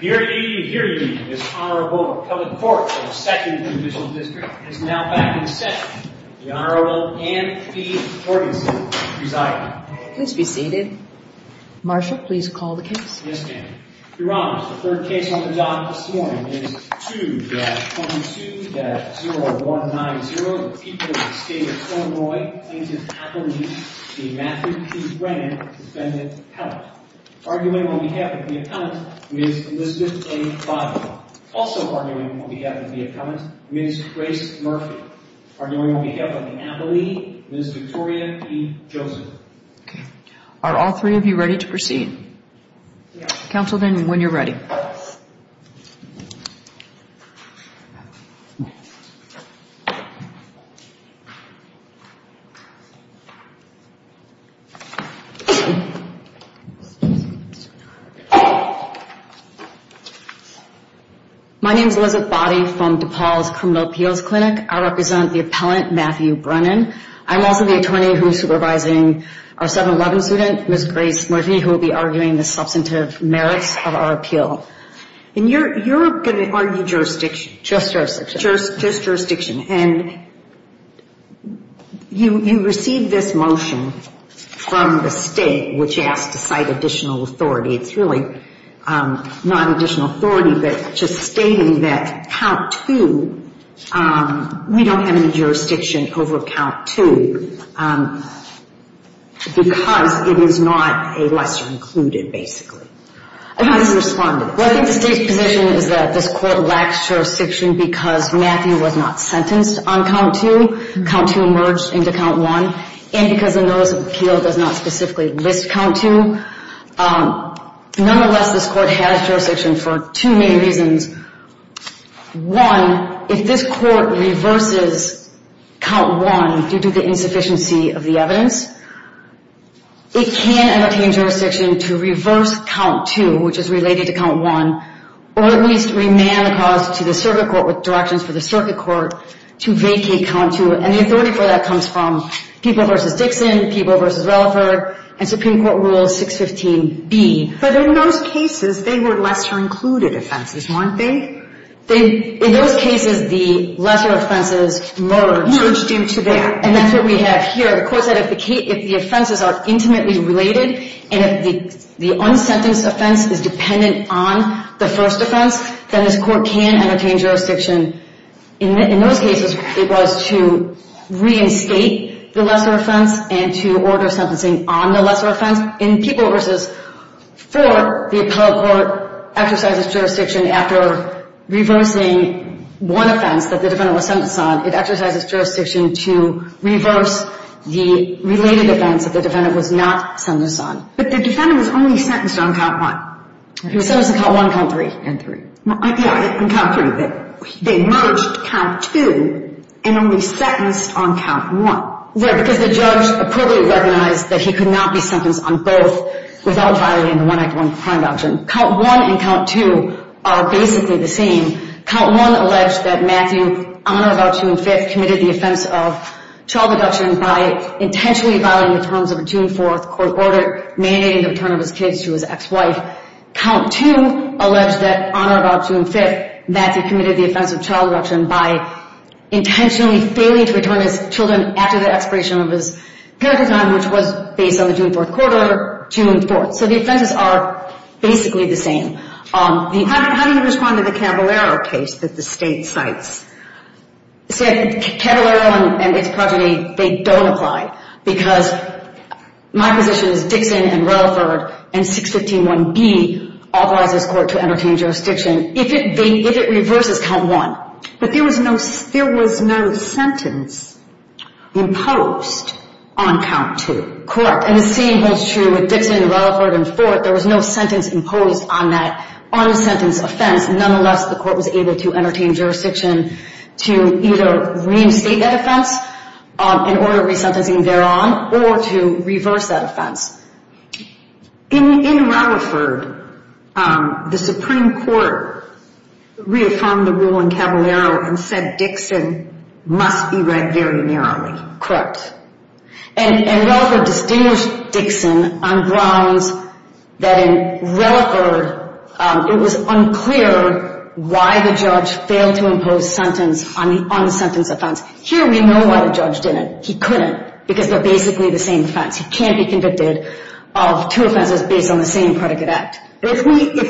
Hear ye, hear ye, this Honorable Appellate Court of the 2nd Judicial District is now back in session. The Honorable Anne P. Morganson presiding. Please be seated. Marshal, please call the case. Yes, ma'am. Your Honors, the third case on the docket this morning is 2-22-0190. The people of the state of Illinois claim to have believed the Matthew P. Brennan defendant, Appellate. Arguing on behalf of the appellant, Ms. Elizabeth A. Bonner. Also arguing on behalf of the appellant, Ms. Grace Murphy. Arguing on behalf of the appellee, Ms. Victoria P. Joseph. Okay. Are all three of you ready to proceed? Yes. Counsel, then, when you're ready. My name is Elizabeth Boddy from DePaul's Criminal Appeals Clinic. I represent the appellant, Matthew Brennan. I'm also the attorney who's supervising our 711 student, Ms. Grace Murphy, who will be arguing the substantive merits of our appeal. And you're going to argue jurisdiction. Just jurisdiction. Just jurisdiction. And you received this motion from the state, which asked to cite additional authority. It's really not additional authority, but just stating that count two, we don't have any jurisdiction over count two because it is not a lesser included, basically. I think the state's position is that this court lacks jurisdiction because Matthew was not sentenced on count two. Count two merged into count one. And because the notice of appeal does not specifically list count two. Nonetheless, this court has jurisdiction for two main reasons. One, if this court reverses count one due to the insufficiency of the evidence, it can entertain jurisdiction to reverse count two, which is related to count one, or at least remand the cause to the circuit court with directions for the circuit court to vacate count two. And the authority for that comes from Peeble v. Dixon, Peeble v. Relaford, and Supreme Court Rule 615B. But in those cases, they were lesser included offenses, weren't they? In those cases, the lesser offenses merged. Merged into that. And that's what we have here. The court said if the offenses are intimately related and if the unsentenced offense is dependent on the first offense, then this court can entertain jurisdiction. In those cases, it was to reinstate the lesser offense and to order sentencing on the lesser offense. In Peeble v. Ford, the appellate court exercises jurisdiction after reversing one offense that the defendant was sentenced on. It exercises jurisdiction to reverse the related offense that the defendant was not sentenced on. But the defendant was only sentenced on count one. He was sentenced on count one, count three. And three. Yeah, on count three. They merged count two and only sentenced on count one. Right, because the judge appropriately recognized that he could not be sentenced on both without violating the One Act One Crime Adoption. Count one and count two are basically the same. Count one alleged that Matthew, on or about June 5th, committed the offense of child abduction by intentionally violating the terms of a June 4th court order mandating the return of his kids to his ex-wife. Count two alleged that on or about June 5th, Matthew committed the offense of child abduction by intentionally failing to return his children after the expiration of his parental time, which was based on the June 4th court order, June 4th. So the offenses are basically the same. How do you respond to the Caballero case that the state cites? See, Caballero and its progeny, they don't apply. Because my position is Dixon and Rutherford and 615.1b authorize this court to entertain jurisdiction if it reverses count one. But there was no sentence imposed on count two. Correct. And the same holds true with Dixon and Rutherford and 4th. There was no sentence imposed on that un-sentenced offense. Nonetheless, the court was able to entertain jurisdiction to either reinstate that offense in order of resentencing thereon or to reverse that offense. In Rutherford, the Supreme Court reaffirmed the rule in Caballero and said Dixon must be read very narrowly. Correct. And Rutherford distinguished Dixon on grounds that in Rutherford it was unclear why the judge failed to impose sentence on the un-sentenced offense. Here we know why the judge didn't. He couldn't. Because they're basically the same offense. He can't be convicted of two offenses based on the same predicate act. If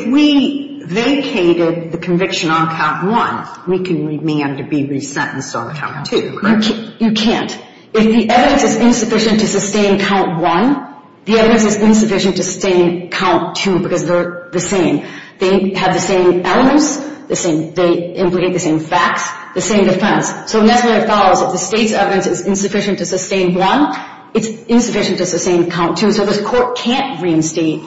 we vacated the conviction on count one, we can remain to be resentenced on count two, correct? You can't. If the evidence is insufficient to sustain count one, the evidence is insufficient to sustain count two because they're the same. They have the same elements. They implicate the same facts, the same defense. So that's what it follows. If the state's evidence is insufficient to sustain one, it's insufficient to sustain count two. So this court can't reinstate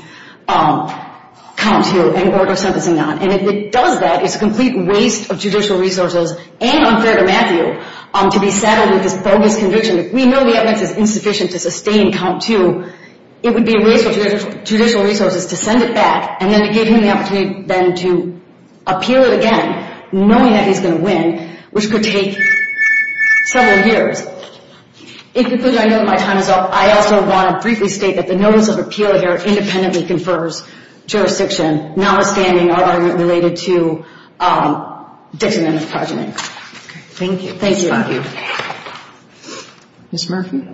count two in order of sentencing that. And if it does that, it's a complete waste of judicial resources and unfair to Matthew to be saddled with this bogus conviction. If we know the evidence is insufficient to sustain count two, it would be a waste of judicial resources to send it back and then to give him the opportunity then to appeal it again, knowing that he's going to win, which could take several years. In conclusion, I know that my time is up. I also want to briefly state that the notice of appeal here independently confers jurisdiction, notwithstanding our argument related to Dixon and McFarland. Thank you. Thank you. Thank you. Ms. Murphy?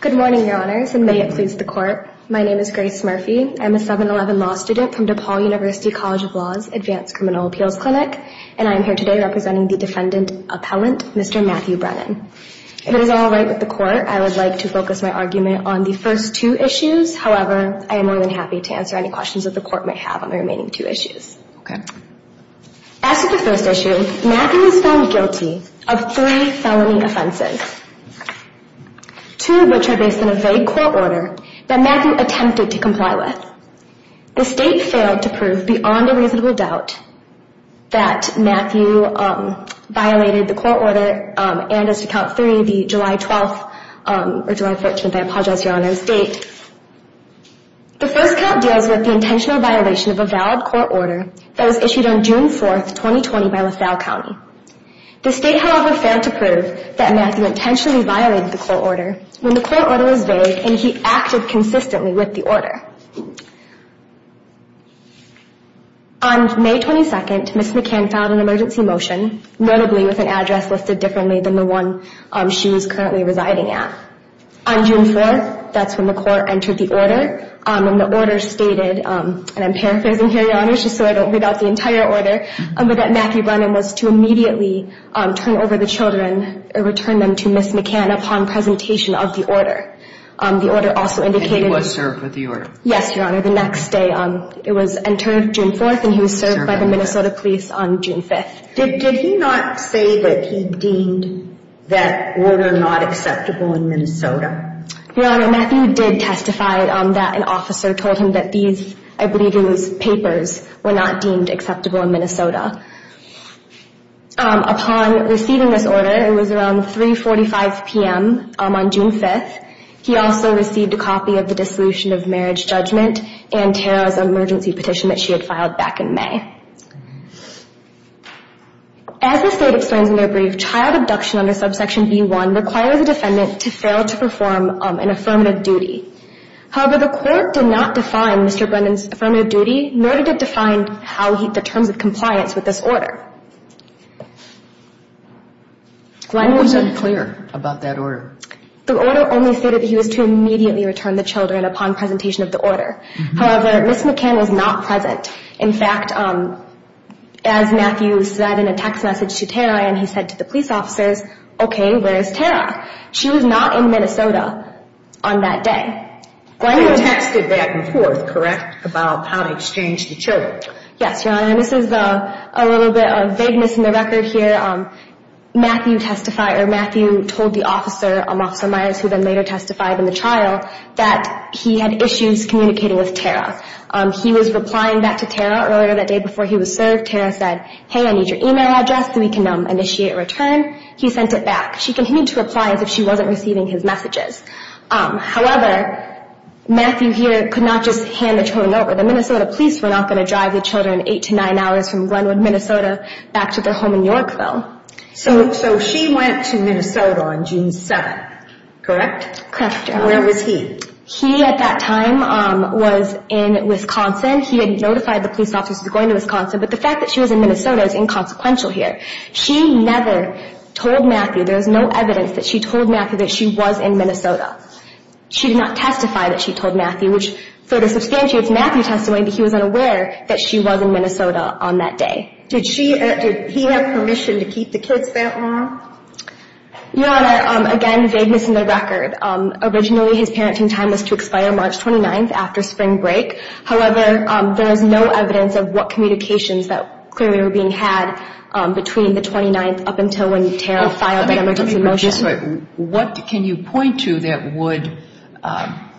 Good morning, Your Honors, and may it please the Court. My name is Grace Murphy. I'm a 711 law student from DePaul University College of Law's Advanced Criminal Appeals Clinic, and I'm here today representing the defendant appellant, Mr. Matthew Brennan. If it is all right with the Court, I would like to focus my argument on the first two issues. However, I am more than happy to answer any questions that the Court may have on the remaining two issues. Okay. As to the first issue, Matthew was found guilty of three felony offenses, two of which are based on a vague court order that Matthew attempted to comply with. The State failed to prove beyond a reasonable doubt that Matthew violated the court order, and as to count three, the July 12th or July 14th, I apologize, Your Honors, date, the first count deals with the intentional violation of a valid court order that was issued on June 4th, 2020, by LaSalle County. The State, however, failed to prove that Matthew intentionally violated the court order when the court order was vague and he acted consistently with the order. On May 22nd, Ms. McCann filed an emergency motion, notably with an address listed differently than the one she was currently residing at. On June 4th, that's when the court entered the order, and the order stated, and I'm paraphrasing here, Your Honors, just so I don't read out the entire order, but that Matthew Brennan was to immediately turn over the children or return them to Ms. McCann upon presentation of the order. And he was served with the order? Yes, Your Honor. The next day, it was entered June 4th, and he was served by the Minnesota police on June 5th. Did he not say that he deemed that order not acceptable in Minnesota? Your Honor, Matthew did testify that an officer told him that these, I believe it was papers, were not deemed acceptable in Minnesota. Upon receiving this order, it was around 3.45 p.m. on June 5th, he also received a copy of the Dissolution of Marriage Judgment and Tara's emergency petition that she had filed back in May. As the state explains in their brief, child abduction under subsection B-1 requires a defendant to fail to perform an affirmative duty. However, the court did not define Mr. Brennan's affirmative duty, nor did it define the terms of compliance with this order. Was it clear about that order? The order only stated that he was to immediately return the children upon presentation of the order. However, Ms. McCann was not present. In fact, as Matthew said in a text message to Tara and he said to the police officers, okay, where is Tara? She was not in Minnesota on that day. You texted back and forth, correct, about how to exchange the children? Yes, Your Honor, and this is a little bit of vagueness in the record here. Matthew testified or Matthew told the officer, Officer Myers, who then later testified in the trial that he had issues communicating with Tara. He was replying back to Tara earlier that day before he was served. Tara said, hey, I need your e-mail address so we can initiate a return. He sent it back. She continued to reply as if she wasn't receiving his messages. However, Matthew here could not just hand the children over. The Minnesota police were not going to drive the children 8 to 9 hours from Glenwood, Minnesota, back to their home in Yorkville. So she went to Minnesota on June 7th, correct? Correct, Your Honor. Where was he? He, at that time, was in Wisconsin. He had notified the police officers he was going to Wisconsin, but the fact that she was in Minnesota is inconsequential here. She never told Matthew, there is no evidence that she told Matthew that she was in Minnesota. She did not testify that she told Matthew, which further substantiates Matthew's testimony that he was unaware that she was in Minnesota on that day. Did he have permission to keep the kids there, ma'am? Your Honor, again, vagueness in the record. Originally, his parenting time was to expire March 29th after spring break. However, there is no evidence of what communications that clearly were being had between the 29th up until when Tara filed an emergency motion. What can you point to that would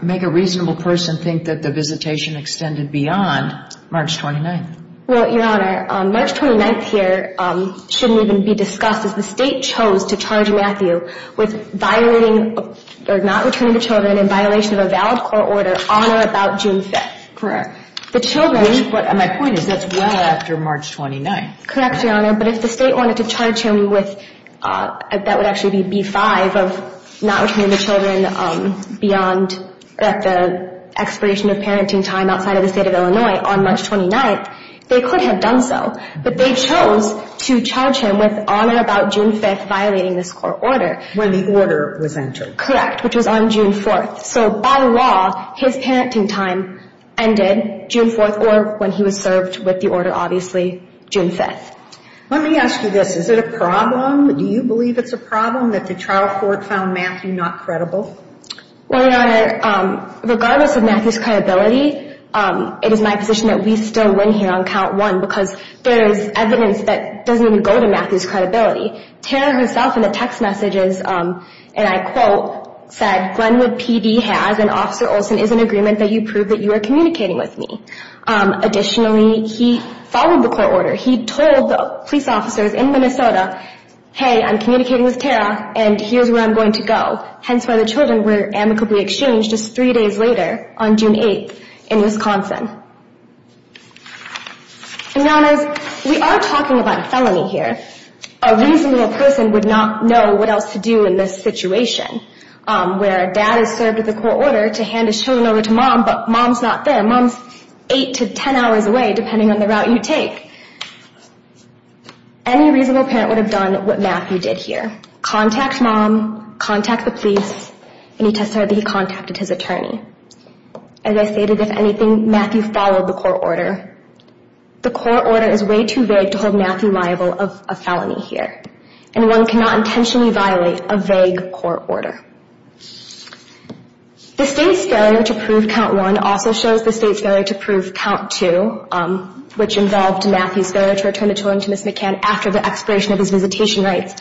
make a reasonable person think that the visitation extended beyond March 29th? Well, Your Honor, March 29th here shouldn't even be discussed, as the State chose to charge Matthew with violating or not returning the children in violation of a valid court order on or about June 5th. Correct. My point is that's well after March 29th. Correct, Your Honor. But if the State wanted to charge him with, that would actually be B-5, of not returning the children beyond the expiration of parenting time outside of the State of Illinois on March 29th, they could have done so. But they chose to charge him with on or about June 5th violating this court order. When the order was entered. Correct, which was on June 4th. So by law, his parenting time ended June 4th or when he was served with the order, obviously, June 5th. Let me ask you this. Is it a problem? Do you believe it's a problem that the trial court found Matthew not credible? Well, Your Honor, regardless of Matthew's credibility, it is my position that we still win here on count one Tara herself in the text messages, and I quote, said, Glenwood PD has and Officer Olson is in agreement that you prove that you are communicating with me. Additionally, he followed the court order. He told the police officers in Minnesota, hey, I'm communicating with Tara and here's where I'm going to go. Hence why the children were amicably exchanged just three days later on June 8th in Wisconsin. Your Honor, we are talking about a felony here. A reasonable person would not know what else to do in this situation. Where a dad is served with a court order to hand his children over to mom, but mom's not there. Mom's eight to ten hours away, depending on the route you take. Any reasonable parent would have done what Matthew did here. Contact mom, contact the police, and he testified that he contacted his attorney. As I stated, if anything, Matthew followed the court order. The court order is way too vague to hold Matthew liable of a felony here. And one cannot intentionally violate a vague court order. The state's failure to prove count one also shows the state's failure to prove count two, which involved Matthew's failure to return the children to Ms. McCann after the expiration of his visitation rights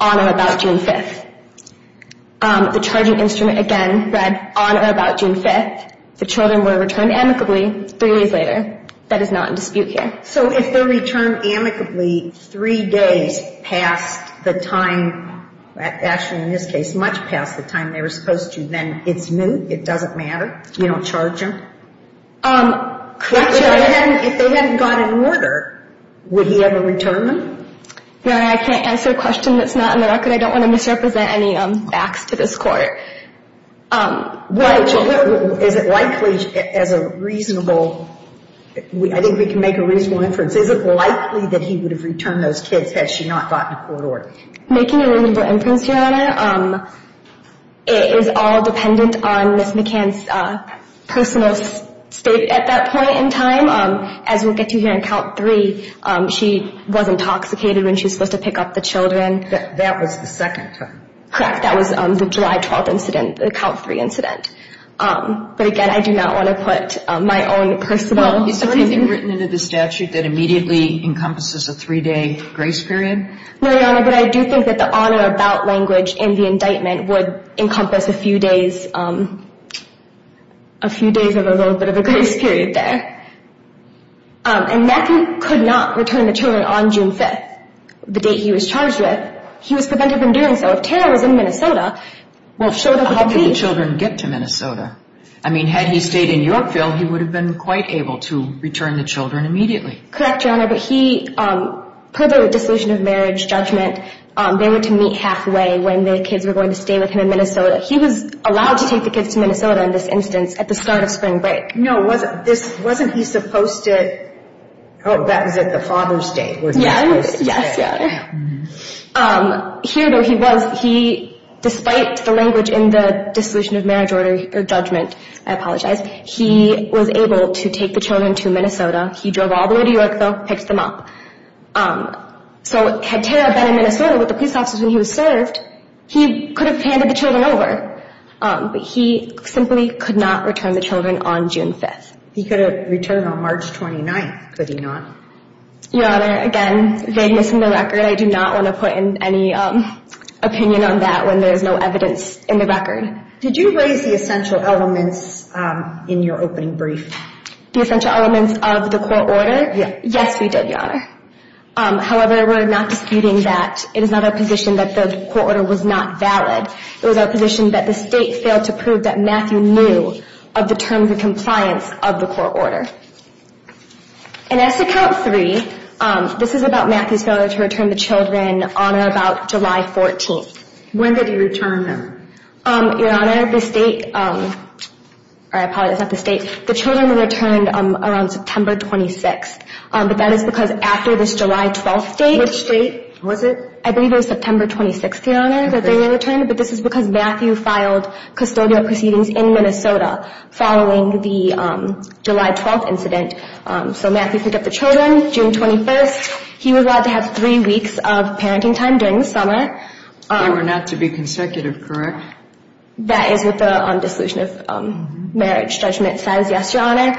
on or about June 5th. The charging instrument, again, read on or about June 5th. The children were returned amicably three days later. That is not in dispute here. So if they're returned amicably three days past the time, actually in this case, much past the time they were supposed to, then it's new, it doesn't matter, you don't charge them? If they hadn't gotten an order, would he ever return them? Your Honor, I can't answer a question that's not in the record. I don't want to misrepresent any facts to this court. Is it likely, as a reasonable, I think we can make a reasonable inference, is it likely that he would have returned those kids had she not gotten a court order? Making a reasonable inference, Your Honor, is all dependent on Ms. McCann's personal state at that point in time. As we'll get to here in count three, she was intoxicated when she was supposed to pick up the children. That was the second time. Correct, that was the July 12th incident, the count three incident. But again, I do not want to put my own personal opinion. Is there anything written into the statute that immediately encompasses a three-day grace period? No, Your Honor, but I do think that the on or about language in the indictment would encompass a few days, a few days of a little bit of a grace period there. And McCann could not return the children on June 5th, the date he was charged with. He was prevented from doing so. If Tara was in Minnesota, well, if she showed up with the kids... How could the children get to Minnesota? I mean, had he stayed in Yorkville, he would have been quite able to return the children immediately. Correct, Your Honor, but he, per the dissolution of marriage judgment, they were to meet halfway when the kids were going to stay with him in Minnesota. He was allowed to take the kids to Minnesota in this instance at the start of spring break. No, wasn't this, wasn't he supposed to, oh, that was at the father's day, wasn't he supposed to stay? Yes, yes, Your Honor. Here, though, he was, he, despite the language in the dissolution of marriage order or judgment, I apologize, he was able to take the children to Minnesota. He drove all the way to Yorkville, picked them up. So had Tara been in Minnesota with the police officers when he was served, he could have handed the children over. But he simply could not return the children on June 5th. He could have returned on March 29th, could he not? Your Honor, again, vagueness in the record. I do not want to put in any opinion on that when there is no evidence in the record. Did you raise the essential elements in your opening brief? The essential elements of the court order? Yes, we did, Your Honor. However, we're not disputing that. It is not our position that the court order was not valid. It was our position that the state failed to prove that Matthew knew of the terms of compliance of the court order. And as to count three, this is about Matthew's failure to return the children on or about July 14th. When did he return them? Your Honor, the state, or I apologize, not the state, the children were returned around September 26th. But that is because after this July 12th date. Which date was it? I believe it was September 26th, Your Honor, that they were returned. But this is because Matthew filed custodial proceedings in Minnesota following the July 12th incident. So Matthew picked up the children June 21st. He was allowed to have three weeks of parenting time during the summer. They were not to be consecutive, correct? That is what the dissolution of marriage judgment says, yes, Your Honor.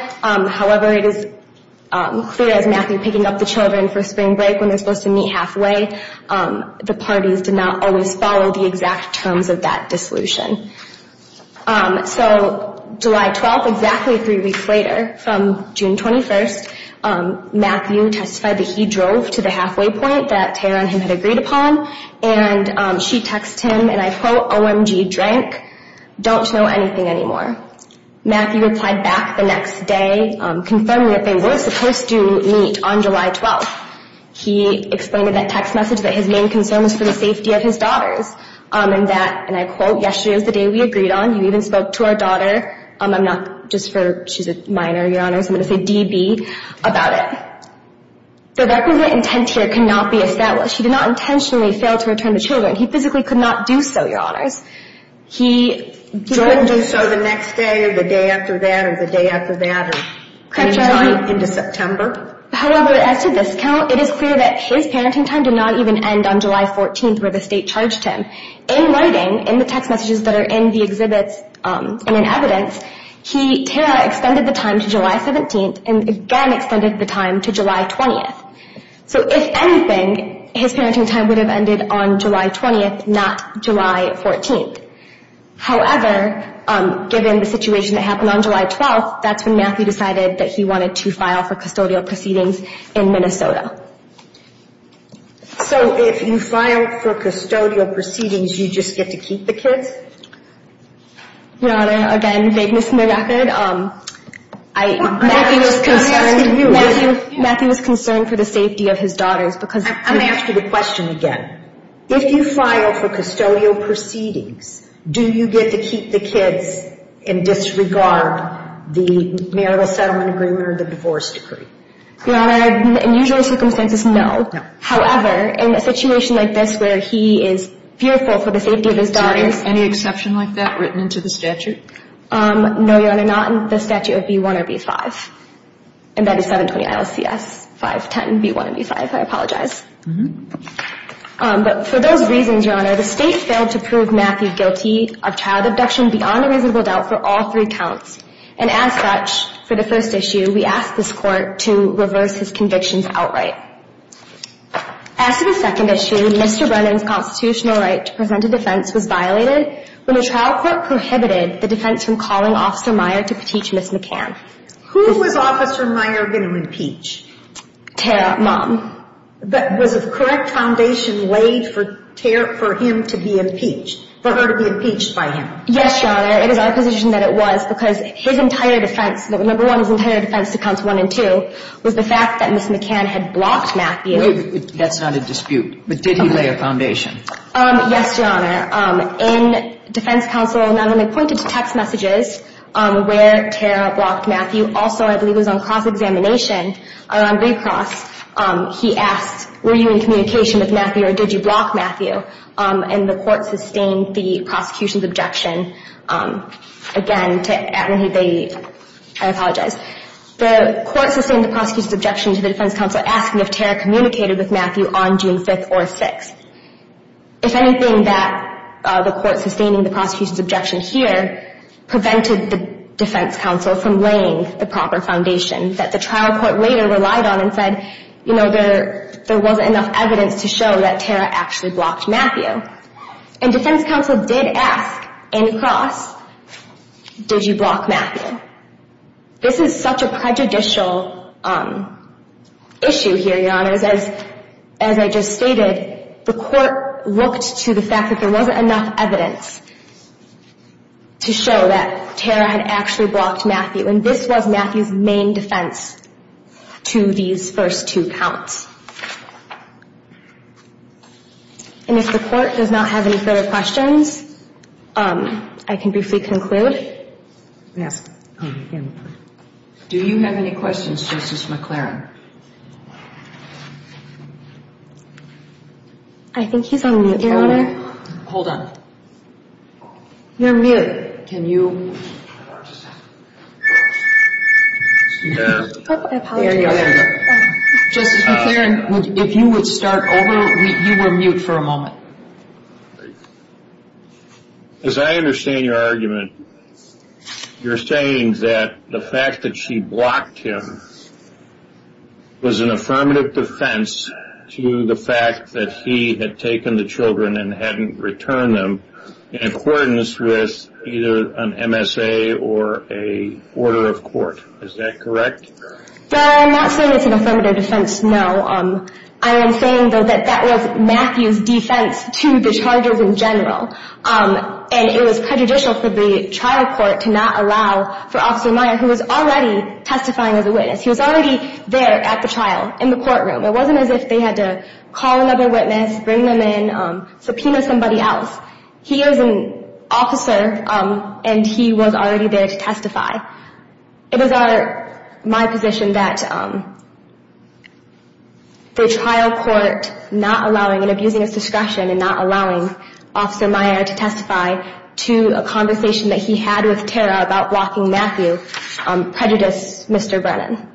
However, it is clear as Matthew picking up the children for spring break when they're supposed to meet halfway, the parties did not always follow the exact terms of that dissolution. So July 12th, exactly three weeks later, from June 21st, Matthew testified that he drove to the halfway point that Tara and him had agreed upon. And she texts him, and I quote, OMG, drank. Don't know anything anymore. Matthew replied back the next day confirming that they were supposed to meet on July 12th. He explained in that text message that his main concern was for the safety of his daughters. And that, and I quote, yesterday was the day we agreed on. You even spoke to our daughter. I'm not just for, she's a minor, Your Honor, so I'm going to say DB, about it. The representative here could not be established. He did not intentionally fail to return the children. He physically could not do so, Your Honors. He didn't do so the next day or the day after that or the day after that or any time into September. However, as to this count, it is clear that his parenting time did not even end on July 14th where the state charged him. In writing, in the text messages that are in the exhibits and in evidence, Tara extended the time to July 17th and again extended the time to July 20th. So if anything, his parenting time would have ended on July 20th, not July 14th. However, given the situation that happened on July 12th, that's when Matthew decided that he wanted to file for custodial proceedings in Minnesota. So if you file for custodial proceedings, you just get to keep the kids? Your Honor, again, vagueness in the record. Matthew was concerned for the safety of his daughters. I'm going to ask you the question again. If you file for custodial proceedings, do you get to keep the kids and disregard the marital settlement agreement or the divorce decree? Your Honor, in usual circumstances, no. However, in a situation like this where he is fearful for the safety of his daughters. Is there any exception like that written into the statute? No, Your Honor, not in the statute of B-1 or B-5. And that is 720-ILCS-510, B-1 and B-5. I apologize. But for those reasons, Your Honor, the State failed to prove Matthew guilty of child abduction beyond a reasonable doubt for all three counts. And as such, for the first issue, we asked this Court to reverse his convictions outright. As for the second issue, Mr. Brennan's constitutional right to present a defense was violated when the trial court prohibited the defense from calling Officer Meyer to petition Ms. McCann. Who was Officer Meyer going to impeach? Tara, mom. Was a correct foundation laid for Tara, for him to be impeached, for her to be impeached by him? Yes, Your Honor. It was our position that it was because his entire defense, number one, his entire defense to Counts 1 and 2 was the fact that Ms. McCann had blocked Matthew. That's not a dispute. But did he lay a foundation? Yes, Your Honor. In defense counsel, not only pointed to text messages where Tara blocked Matthew, also I believe it was on cross-examination or on recross, he asked were you in communication with Matthew or did you block Matthew? And the Court sustained the prosecution's objection. Again, I apologize. The Court sustained the prosecution's objection to the defense counsel asking if Tara communicated with Matthew on June 5th or 6th. If anything, that the Court sustaining the prosecution's objection here prevented the defense counsel from laying the proper foundation that the trial court later relied on and said, you know, there wasn't enough evidence to show that Tara actually blocked Matthew. And defense counsel did ask in cross, did you block Matthew? This is such a prejudicial issue here, Your Honor, as I just stated, the Court looked to the fact that there wasn't enough evidence to show that Tara had actually blocked Matthew. And this was Matthew's main defense to these first two counts. And if the Court does not have any further questions, I can briefly conclude. Yes. Do you have any questions, Justice McClaren? I think he's on mute, Your Honor. Hold on. You're mute. Can you? Yeah. I apologize. Justice McClaren, if you would start over. You were mute for a moment. As I understand your argument, you're saying that the fact that she blocked him was an affirmative defense to the fact that he had taken the children and hadn't returned them in accordance with either an MSA or an order of court. Is that correct? No, I'm not saying it's an affirmative defense, no. I am saying, though, that that was Matthew's defense to the charges in general. And it was prejudicial for the trial court to not allow for Officer Meyer, who was already testifying as a witness. He was already there at the trial in the courtroom. It wasn't as if they had to call another witness, bring them in, subpoena somebody else. He is an officer, and he was already there to testify. It is my position that the trial court not allowing and abusing his discretion and not allowing Officer Meyer to testify to a conversation that he had with Tara about blocking Matthew prejudiced Mr. Brennan.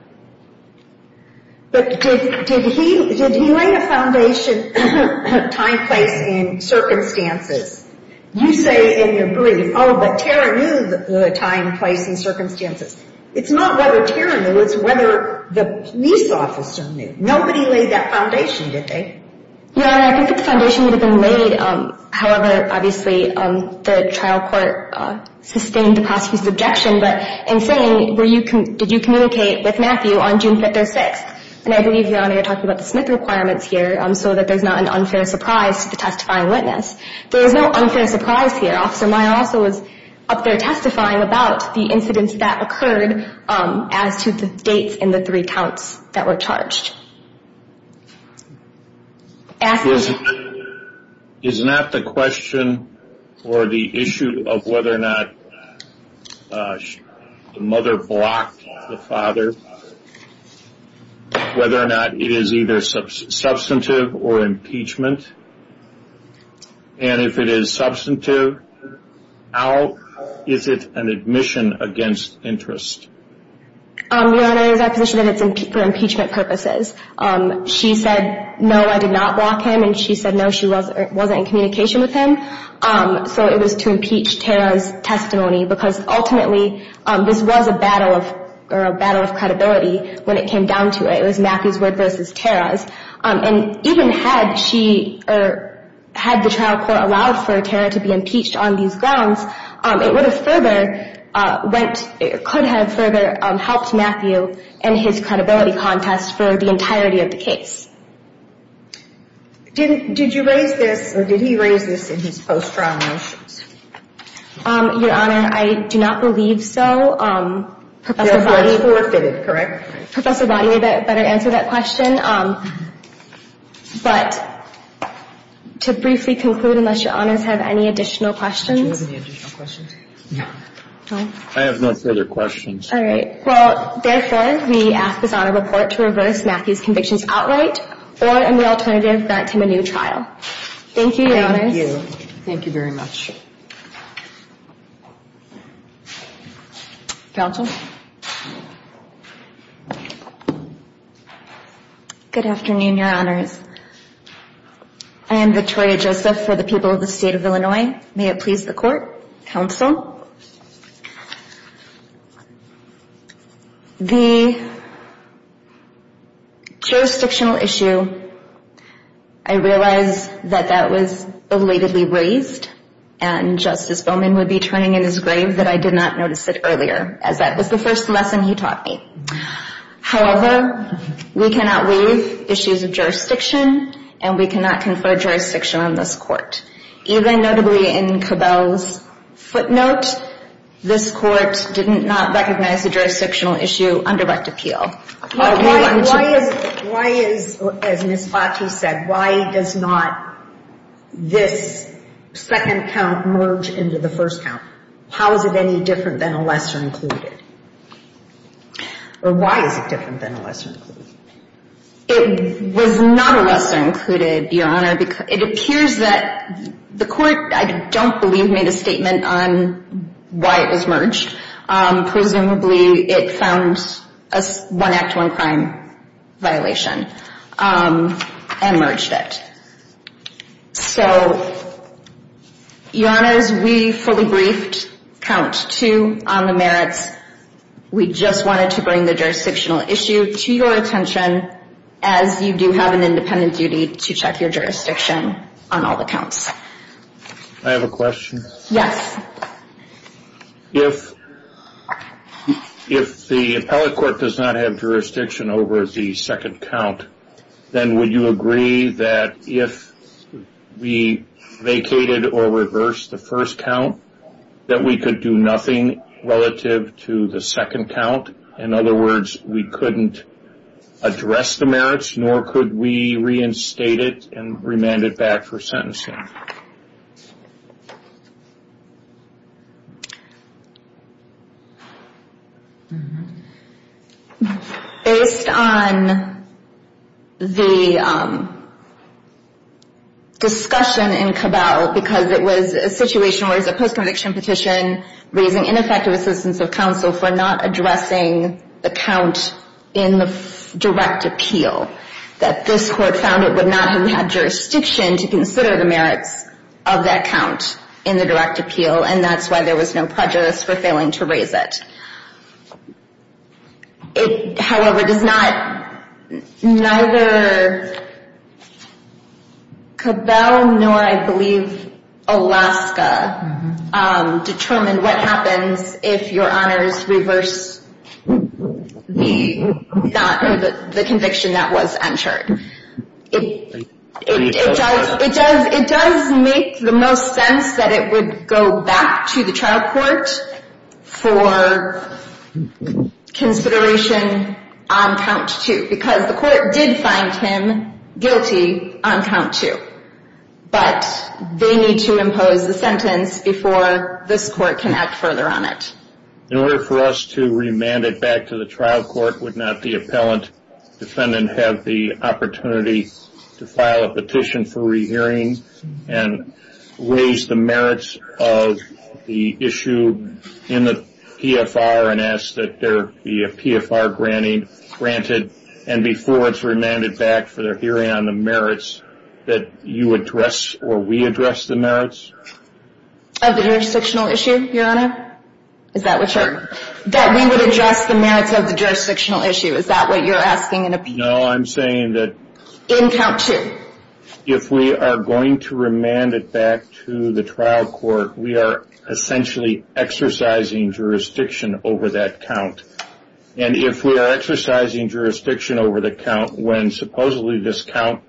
But did he lay the foundation, time, place, and circumstances? You say in your brief, oh, but Tara knew the time, place, and circumstances. It's not whether Tara knew, it's whether the police officer knew. Nobody laid that foundation, did they? Your Honor, I think that the foundation would have been laid, however, obviously, the trial court sustained the prosecution's objection. But in saying, did you communicate with Matthew on June 5th or 6th? And I believe, Your Honor, you're talking about the Smith requirements here, so that there's not an unfair surprise to the testifying witness. There is no unfair surprise here. Officer Meyer also was up there testifying about the incidents that occurred as to the dates in the three counts that were charged. Is that the question or the issue of whether or not the mother blocked the father? Whether or not it is either substantive or impeachment? And if it is substantive, how is it an admission against interest? Your Honor, it is our position that it's for impeachment purposes. She said, no, I did not block him, and she said, no, she wasn't in communication with him. So it was to impeach Tara's testimony, because ultimately, this was a battle of credibility when it came down to it. It was Matthew's word versus Tara's. And even had the trial court allowed for Tara to be impeached on these grounds, it could have further helped Matthew in his credibility contest for the entirety of the case. Did you raise this, or did he raise this in his post-trial motions? Your Honor, I do not believe so. It was forfeited, correct? Professor Boddy better answer that question. But to briefly conclude, unless Your Honors have any additional questions? Do you have any additional questions? I have no further questions. All right. Well, therefore, we ask this Honor report to reverse Matthew's convictions outright or, in the alternative, grant him a new trial. Thank you, Your Honors. Thank you. Thank you very much. Counsel? Good afternoon, Your Honors. I am Victoria Joseph for the people of the State of Illinois. May it please the Court. Counsel? Well, the jurisdictional issue, I realize that that was belatedly raised, and Justice Bowman would be turning in his grave that I did not notice it earlier, as that was the first lesson he taught me. However, we cannot waive issues of jurisdiction, and we cannot confer jurisdiction on this Court. Even notably in Cabell's footnote, this Court did not recognize the jurisdictional issue under rect appeal. Why is, as Ms. Lachey said, why does not this second count merge into the first count? How is it any different than a lesser included? Or why is it different than a lesser included? It was not a lesser included, Your Honor. It appears that the Court, I don't believe, made a statement on why it was merged. Presumably it found a one act, one crime violation and merged it. So, Your Honors, we fully briefed count two on the merits. We just wanted to bring the jurisdictional issue to your attention, as you do have an independent duty to check your jurisdiction on all the counts. Can I have a question? Yes. If the appellate court does not have jurisdiction over the second count, then would you agree that if we vacated or reversed the first count, that we could do nothing relative to the second count? In other words, we couldn't address the merits, nor could we reinstate it and remand it back for sentencing? Based on the discussion in Cabell, because it was a situation where it was a post-conviction petition raising ineffective assistance of counsel for not addressing the count in the direct appeal, that this Court found it would not have jurisdiction to consider the merits of that count in the direct appeal, and that's why there was no prejudice for failing to raise it. However, neither Cabell nor, I believe, Alaska, determined what happens if Your Honors reverse the conviction that was entered. It does make the most sense that it would go back to the trial court for consideration on count two, because the court did find him guilty on count two. But they need to impose the sentence before this court can act further on it. In order for us to remand it back to the trial court, would not the appellant defendant have the opportunity to file a petition for rehearing and raise the merits of the issue in the PFR and ask that there be a PFR granting granted, and before it's remanded back for their hearing on the merits, that you address or we address the merits? Of the jurisdictional issue, Your Honor? Is that what you're? That we would address the merits of the jurisdictional issue. Is that what you're asking in appeal? No, I'm saying that. In count two? If we are going to remand it back to the trial court, we are essentially exercising jurisdiction over that count. And if we are exercising jurisdiction over the count when supposedly this count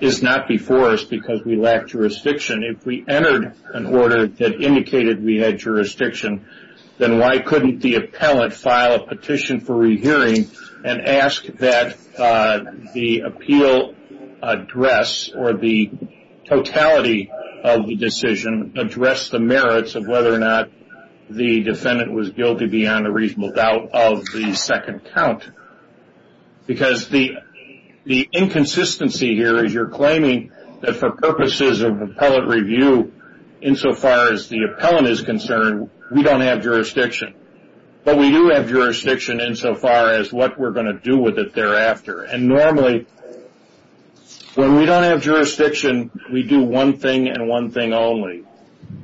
is not before us because we lack jurisdiction, if we entered an order that indicated we had jurisdiction, then why couldn't the appellant file a petition for rehearing and ask that the appeal address or the totality of the decision address the merits of whether or not the defendant was guilty beyond a reasonable doubt of the second count? Because the inconsistency here is you're claiming that for purposes of appellate review insofar as the appellant is concerned, we don't have jurisdiction. But we do have jurisdiction insofar as what we're going to do with it thereafter. And normally when we don't have jurisdiction, we do one thing and one thing only.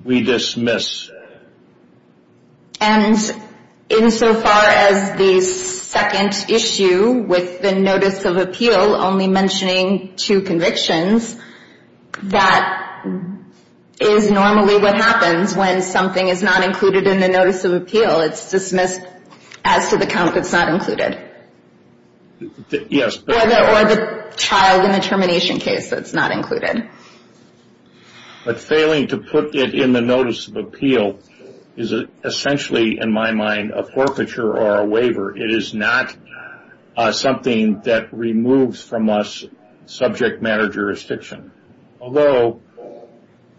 We dismiss. And insofar as the second issue with the notice of appeal only mentioning two convictions, that is normally what happens when something is not included in the notice of appeal. It's dismissed as to the count that's not included. Or the child in the termination case that's not included. But failing to put it in the notice of appeal is essentially, in my mind, a forfeiture or a waiver. It is not something that removes from us subject matter jurisdiction. Although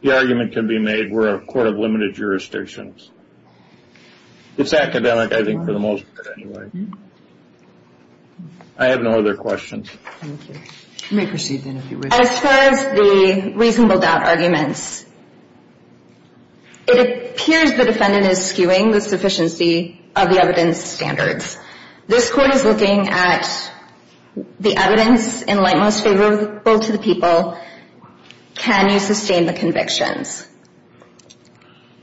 the argument can be made we're a court of limited jurisdictions. It's academic, I think, for the most part anyway. I have no other questions. Thank you. You may proceed then if you wish. As far as the reasonable doubt arguments, it appears the defendant is skewing the sufficiency of the evidence standards. This court is looking at the evidence in light most favorable to the people. Can you sustain the convictions?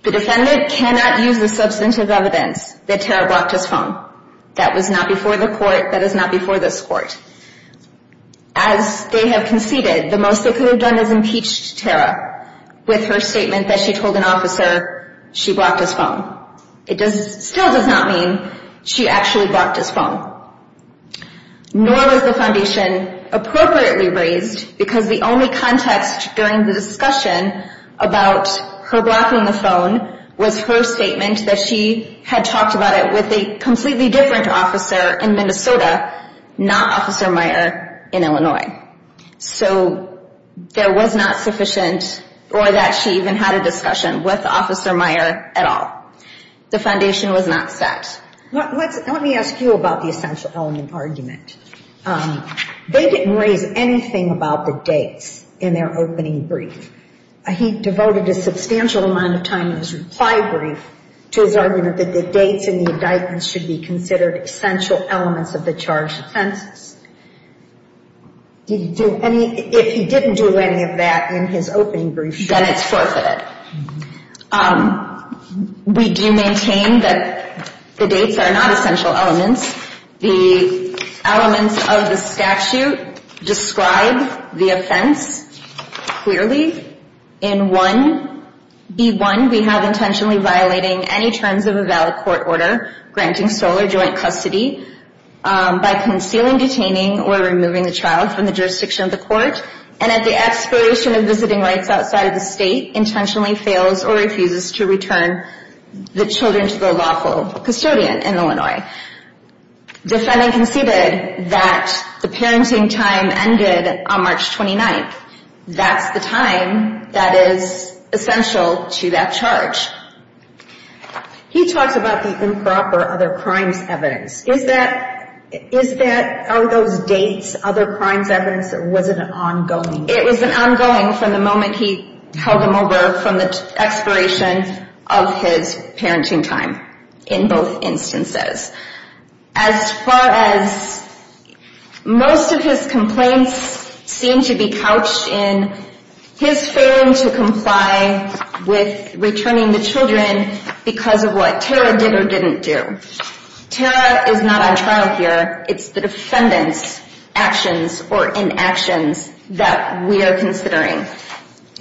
The defendant cannot use the substantive evidence that Tara blocked his phone. That was not before the court. That is not before this court. As they have conceded, the most they could have done is impeached Tara. With her statement that she told an officer she blocked his phone. It still does not mean she actually blocked his phone. Nor was the foundation appropriately raised because the only context during the discussion about her blocking the phone was her statement that she had talked about it with a completely different officer in Minnesota, not Officer Meyer in Illinois. So there was not sufficient or that she even had a discussion with Officer Meyer at all. The foundation was not set. Let me ask you about the essential element argument. They didn't raise anything about the dates in their opening brief. He devoted a substantial amount of time in his reply brief to his argument that the dates in the indictments should be considered essential elements of the charged offenses. If he didn't do any of that in his opening brief, then it's forfeited. We do maintain that the dates are not essential elements. The elements of the statute describe the offense clearly. In 1B1, we have intentionally violating any terms of a valid court order granting sole or joint custody by concealing, detaining, or removing the child from the jurisdiction of the court and at the expiration of visiting rights outside of the state, intentionally fails or refuses to return the children to the lawful custodian in Illinois. Defending conceded that the parenting time ended on March 29th. That's the time that is essential to that charge. He talks about the improper other crimes evidence. Is that, are those dates other crimes evidence or was it an ongoing? It was an ongoing from the moment he held them over from the expiration of his parenting time in both instances. As far as most of his complaints seem to be couched in his failing to comply with returning the children because of what Tara did or didn't do. Tara is not on trial here. It's the defendant's actions or inactions that we are considering.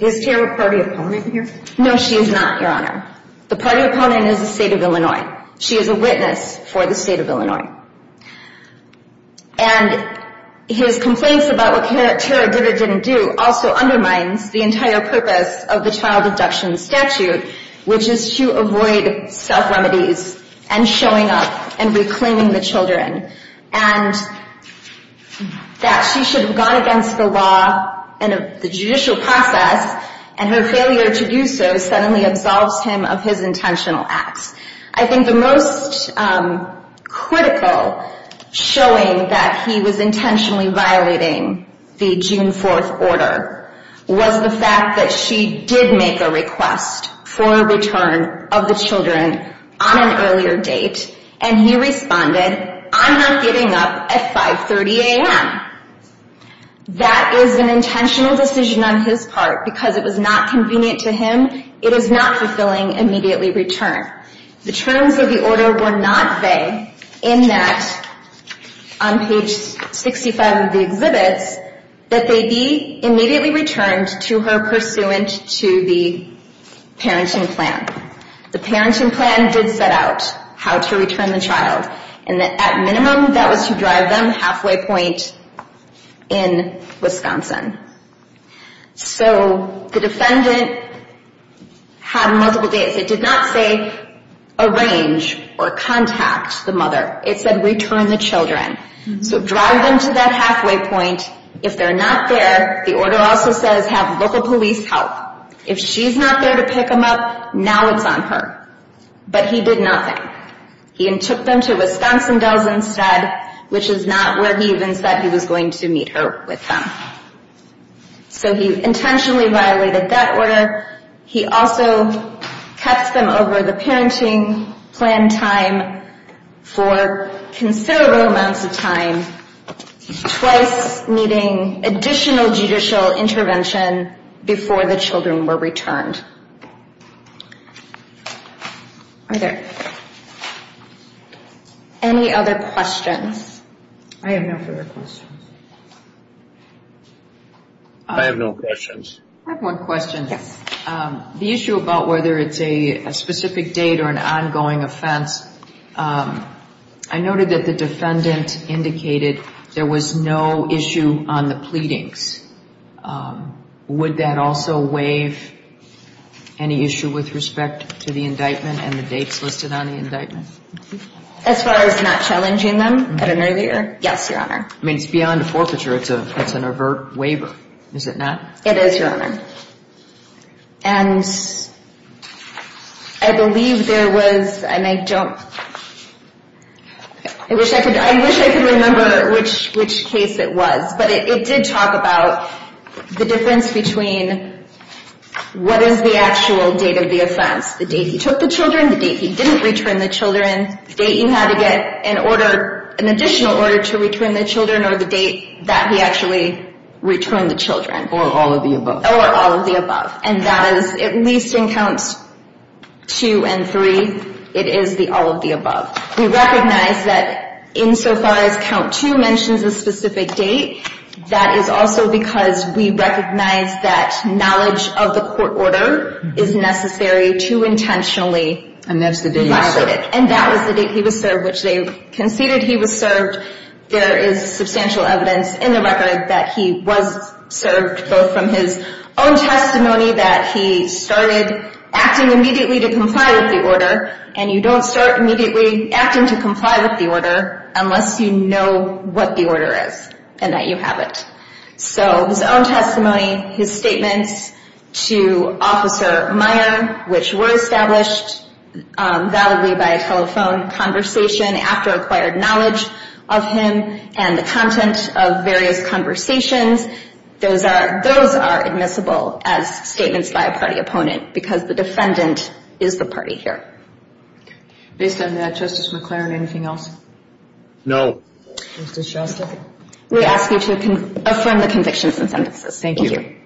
Is Tara a party opponent here? No, she is not, Your Honor. The party opponent is the state of Illinois. She is a witness for the state of Illinois. And his complaints about what Tara did or didn't do also undermines the entire purpose of the child abduction statute which is to avoid self-remedies and showing up and reclaiming the children. And that she should have gone against the law and the judicial process and her failure to do so suddenly absolves him of his intentional acts. I think the most critical showing that he was intentionally violating the June 4th order was the fact that she did make a request for a return of the children on an earlier date and he responded, I'm not giving up at 530 a.m. That is an intentional decision on his part because it was not convenient to him. It is not fulfilling immediately return. The terms of the order were not vague in that on page 65 of the exhibits that they be immediately returned to her pursuant to the parenting plan. The parenting plan did set out how to return the child and at minimum that was to drive them halfway point in Wisconsin. So the defendant had multiple dates. It did not say arrange or contact the mother. It said return the children. So drive them to that halfway point. If they're not there, the order also says have local police help. If she's not there to pick them up, now it's on her. But he did nothing. He took them to Wisconsin Dells instead which is not where he even said he was going to meet her with them. So he intentionally violated that order. He also kept them over the parenting plan time for considerable amounts of time, twice needing additional judicial intervention before the children were returned. Are there any other questions? I have no further questions. I have no questions. I have one question. Yes. The issue about whether it's a specific date or an ongoing offense, I noted that the defendant indicated there was no issue on the pleadings. Would that also waive any issue with respect to the indictment and the dates listed on the indictment? As far as not challenging them at an earlier? Yes, Your Honor. I mean, it's beyond a forfeiture. It's an overt waiver, is it not? It is, Your Honor. And I believe there was, and I don't, I wish I could remember which case it was, but it did talk about the difference between what is the actual date of the offense, the date he took the children, the date he didn't return the children, the date you had to get an order, an additional order to return the children, or the date that he actually returned the children. Or all of the above. Or all of the above. And that is, at least in Counts 2 and 3, it is the all of the above. We recognize that insofar as Count 2 mentions a specific date, that is also because we recognize that knowledge of the court order is necessary to intentionally revise it. And that's the date he was served. And that was the date he was served, which they conceded he was served. There is substantial evidence in the record that he was served, both from his own testimony that he started acting immediately to comply with the order, and you don't start immediately acting to comply with the order unless you know what the order is and that you have it. So his own testimony, his statements to Officer Meyer, which were established validly by a telephone conversation after acquired knowledge of him and the content of various conversations, those are admissible as statements by a party opponent, because the defendant is the party here. Based on that, Justice McClaren, anything else? No. Justice Shostak? We ask you to affirm the convictions and sentences. Thank you.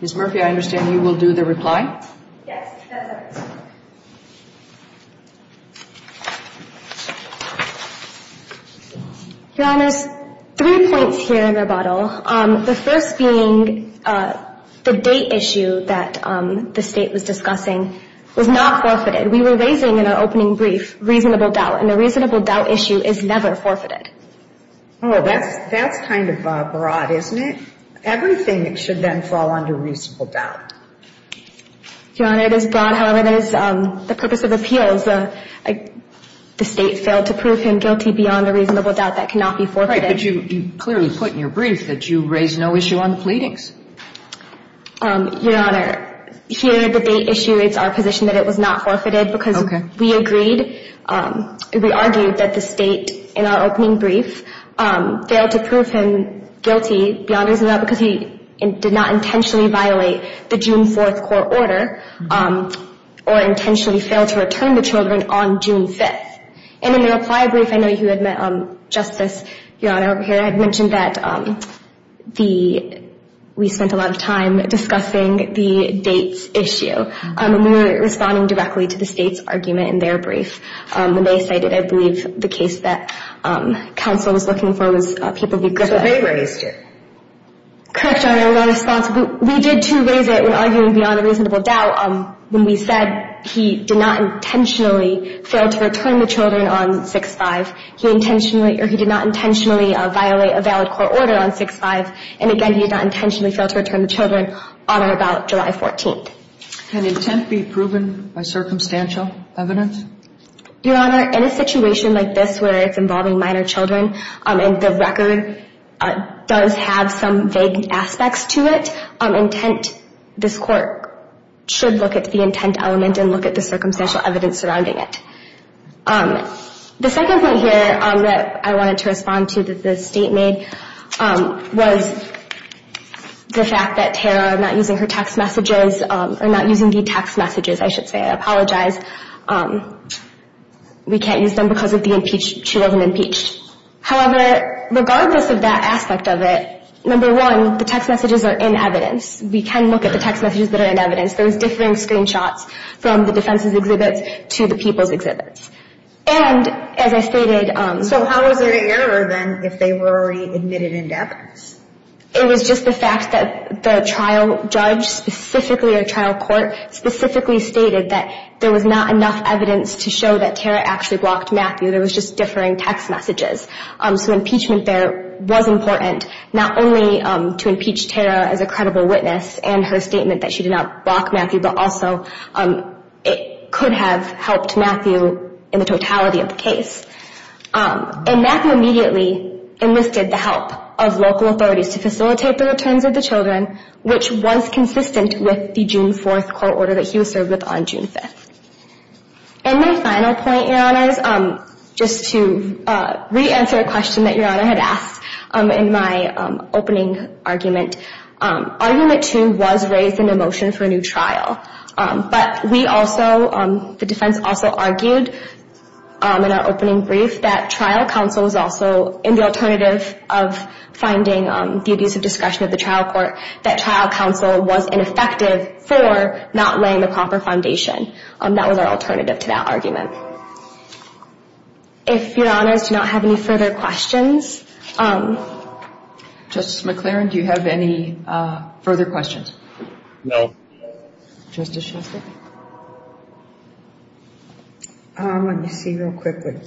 Ms. Murphy, I understand you will do the reply? Yes. Your Honor, there's three points here in rebuttal. The first being the date issue that the State was discussing was not forfeited. We were raising in our opening brief reasonable doubt, and the reasonable doubt issue is never forfeited. Oh, that's kind of broad, isn't it? Everything should then fall under reasonable doubt. Your Honor, it is broad. However, there is the purpose of appeals. The State failed to prove him guilty beyond a reasonable doubt that cannot be forfeited. But you clearly put in your brief that you raised no issue on the pleadings. Your Honor, here the date issue, it's our position that it was not forfeited, because we agreed, we argued that the State, in our opening brief, failed to prove him guilty beyond a reasonable doubt because he did not intentionally violate the June 4th court order or intentionally failed to return the children on June 5th. And in the reply brief, I know you had met Justice, Your Honor, over here. I had mentioned that we spent a lot of time discussing the dates issue, and we were responding directly to the State's argument in their brief. And they cited, I believe, the case that counsel was looking for was people who grew up. So they raised it. Correct, Your Honor. We did, too, raise it when arguing beyond a reasonable doubt when we said he did not intentionally fail to return the children on 6-5. He intentionally or he did not intentionally violate a valid court order on 6-5. And, again, he did not intentionally fail to return the children on or about July 14th. Can intent be proven by circumstantial evidence? Your Honor, in a situation like this where it's involving minor children and the record does have some vague aspects to it, intent, this court should look at the intent element and look at the circumstantial evidence surrounding it. The second point here that I wanted to respond to that the State made was the fact that Tara, not using her text messages, or not using the text messages, I should say. I apologize. We can't use them because she wasn't impeached. However, regardless of that aspect of it, number one, the text messages are in evidence. We can look at the text messages that are in evidence, And, as I stated, so how is it a error then if they were already admitted into evidence? It was just the fact that the trial judge specifically or trial court specifically stated that there was not enough evidence to show that Tara actually blocked Matthew. There was just differing text messages. So impeachment there was important, not only to impeach Tara as a credible witness and her statement that she did not block Matthew, but also it could have helped Matthew in the totality of the case. And Matthew immediately enlisted the help of local authorities to facilitate the returns of the children, which was consistent with the June 4th court order that he was served with on June 5th. And my final point, Your Honors, just to re-answer a question that Your Honor had asked in my opening argument, argument two was raised in a motion for a new trial, but we also, the defense also argued in our opening brief that trial counsel was also, in the alternative of finding the abusive discretion of the trial court, that trial counsel was ineffective for not laying the proper foundation. That was our alternative to that argument. If Your Honors do not have any further questions. Justice McClaren, do you have any further questions? No. Justice Shostak? Let me see real quickly.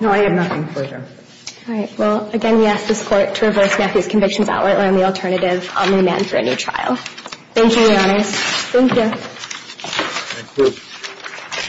No, I have nothing further. All right. Well, again, we ask this court to reverse Matthew's convictions outline the alternative on the demand for a new trial. Thank you, Your Honors. Thank you. Thank you.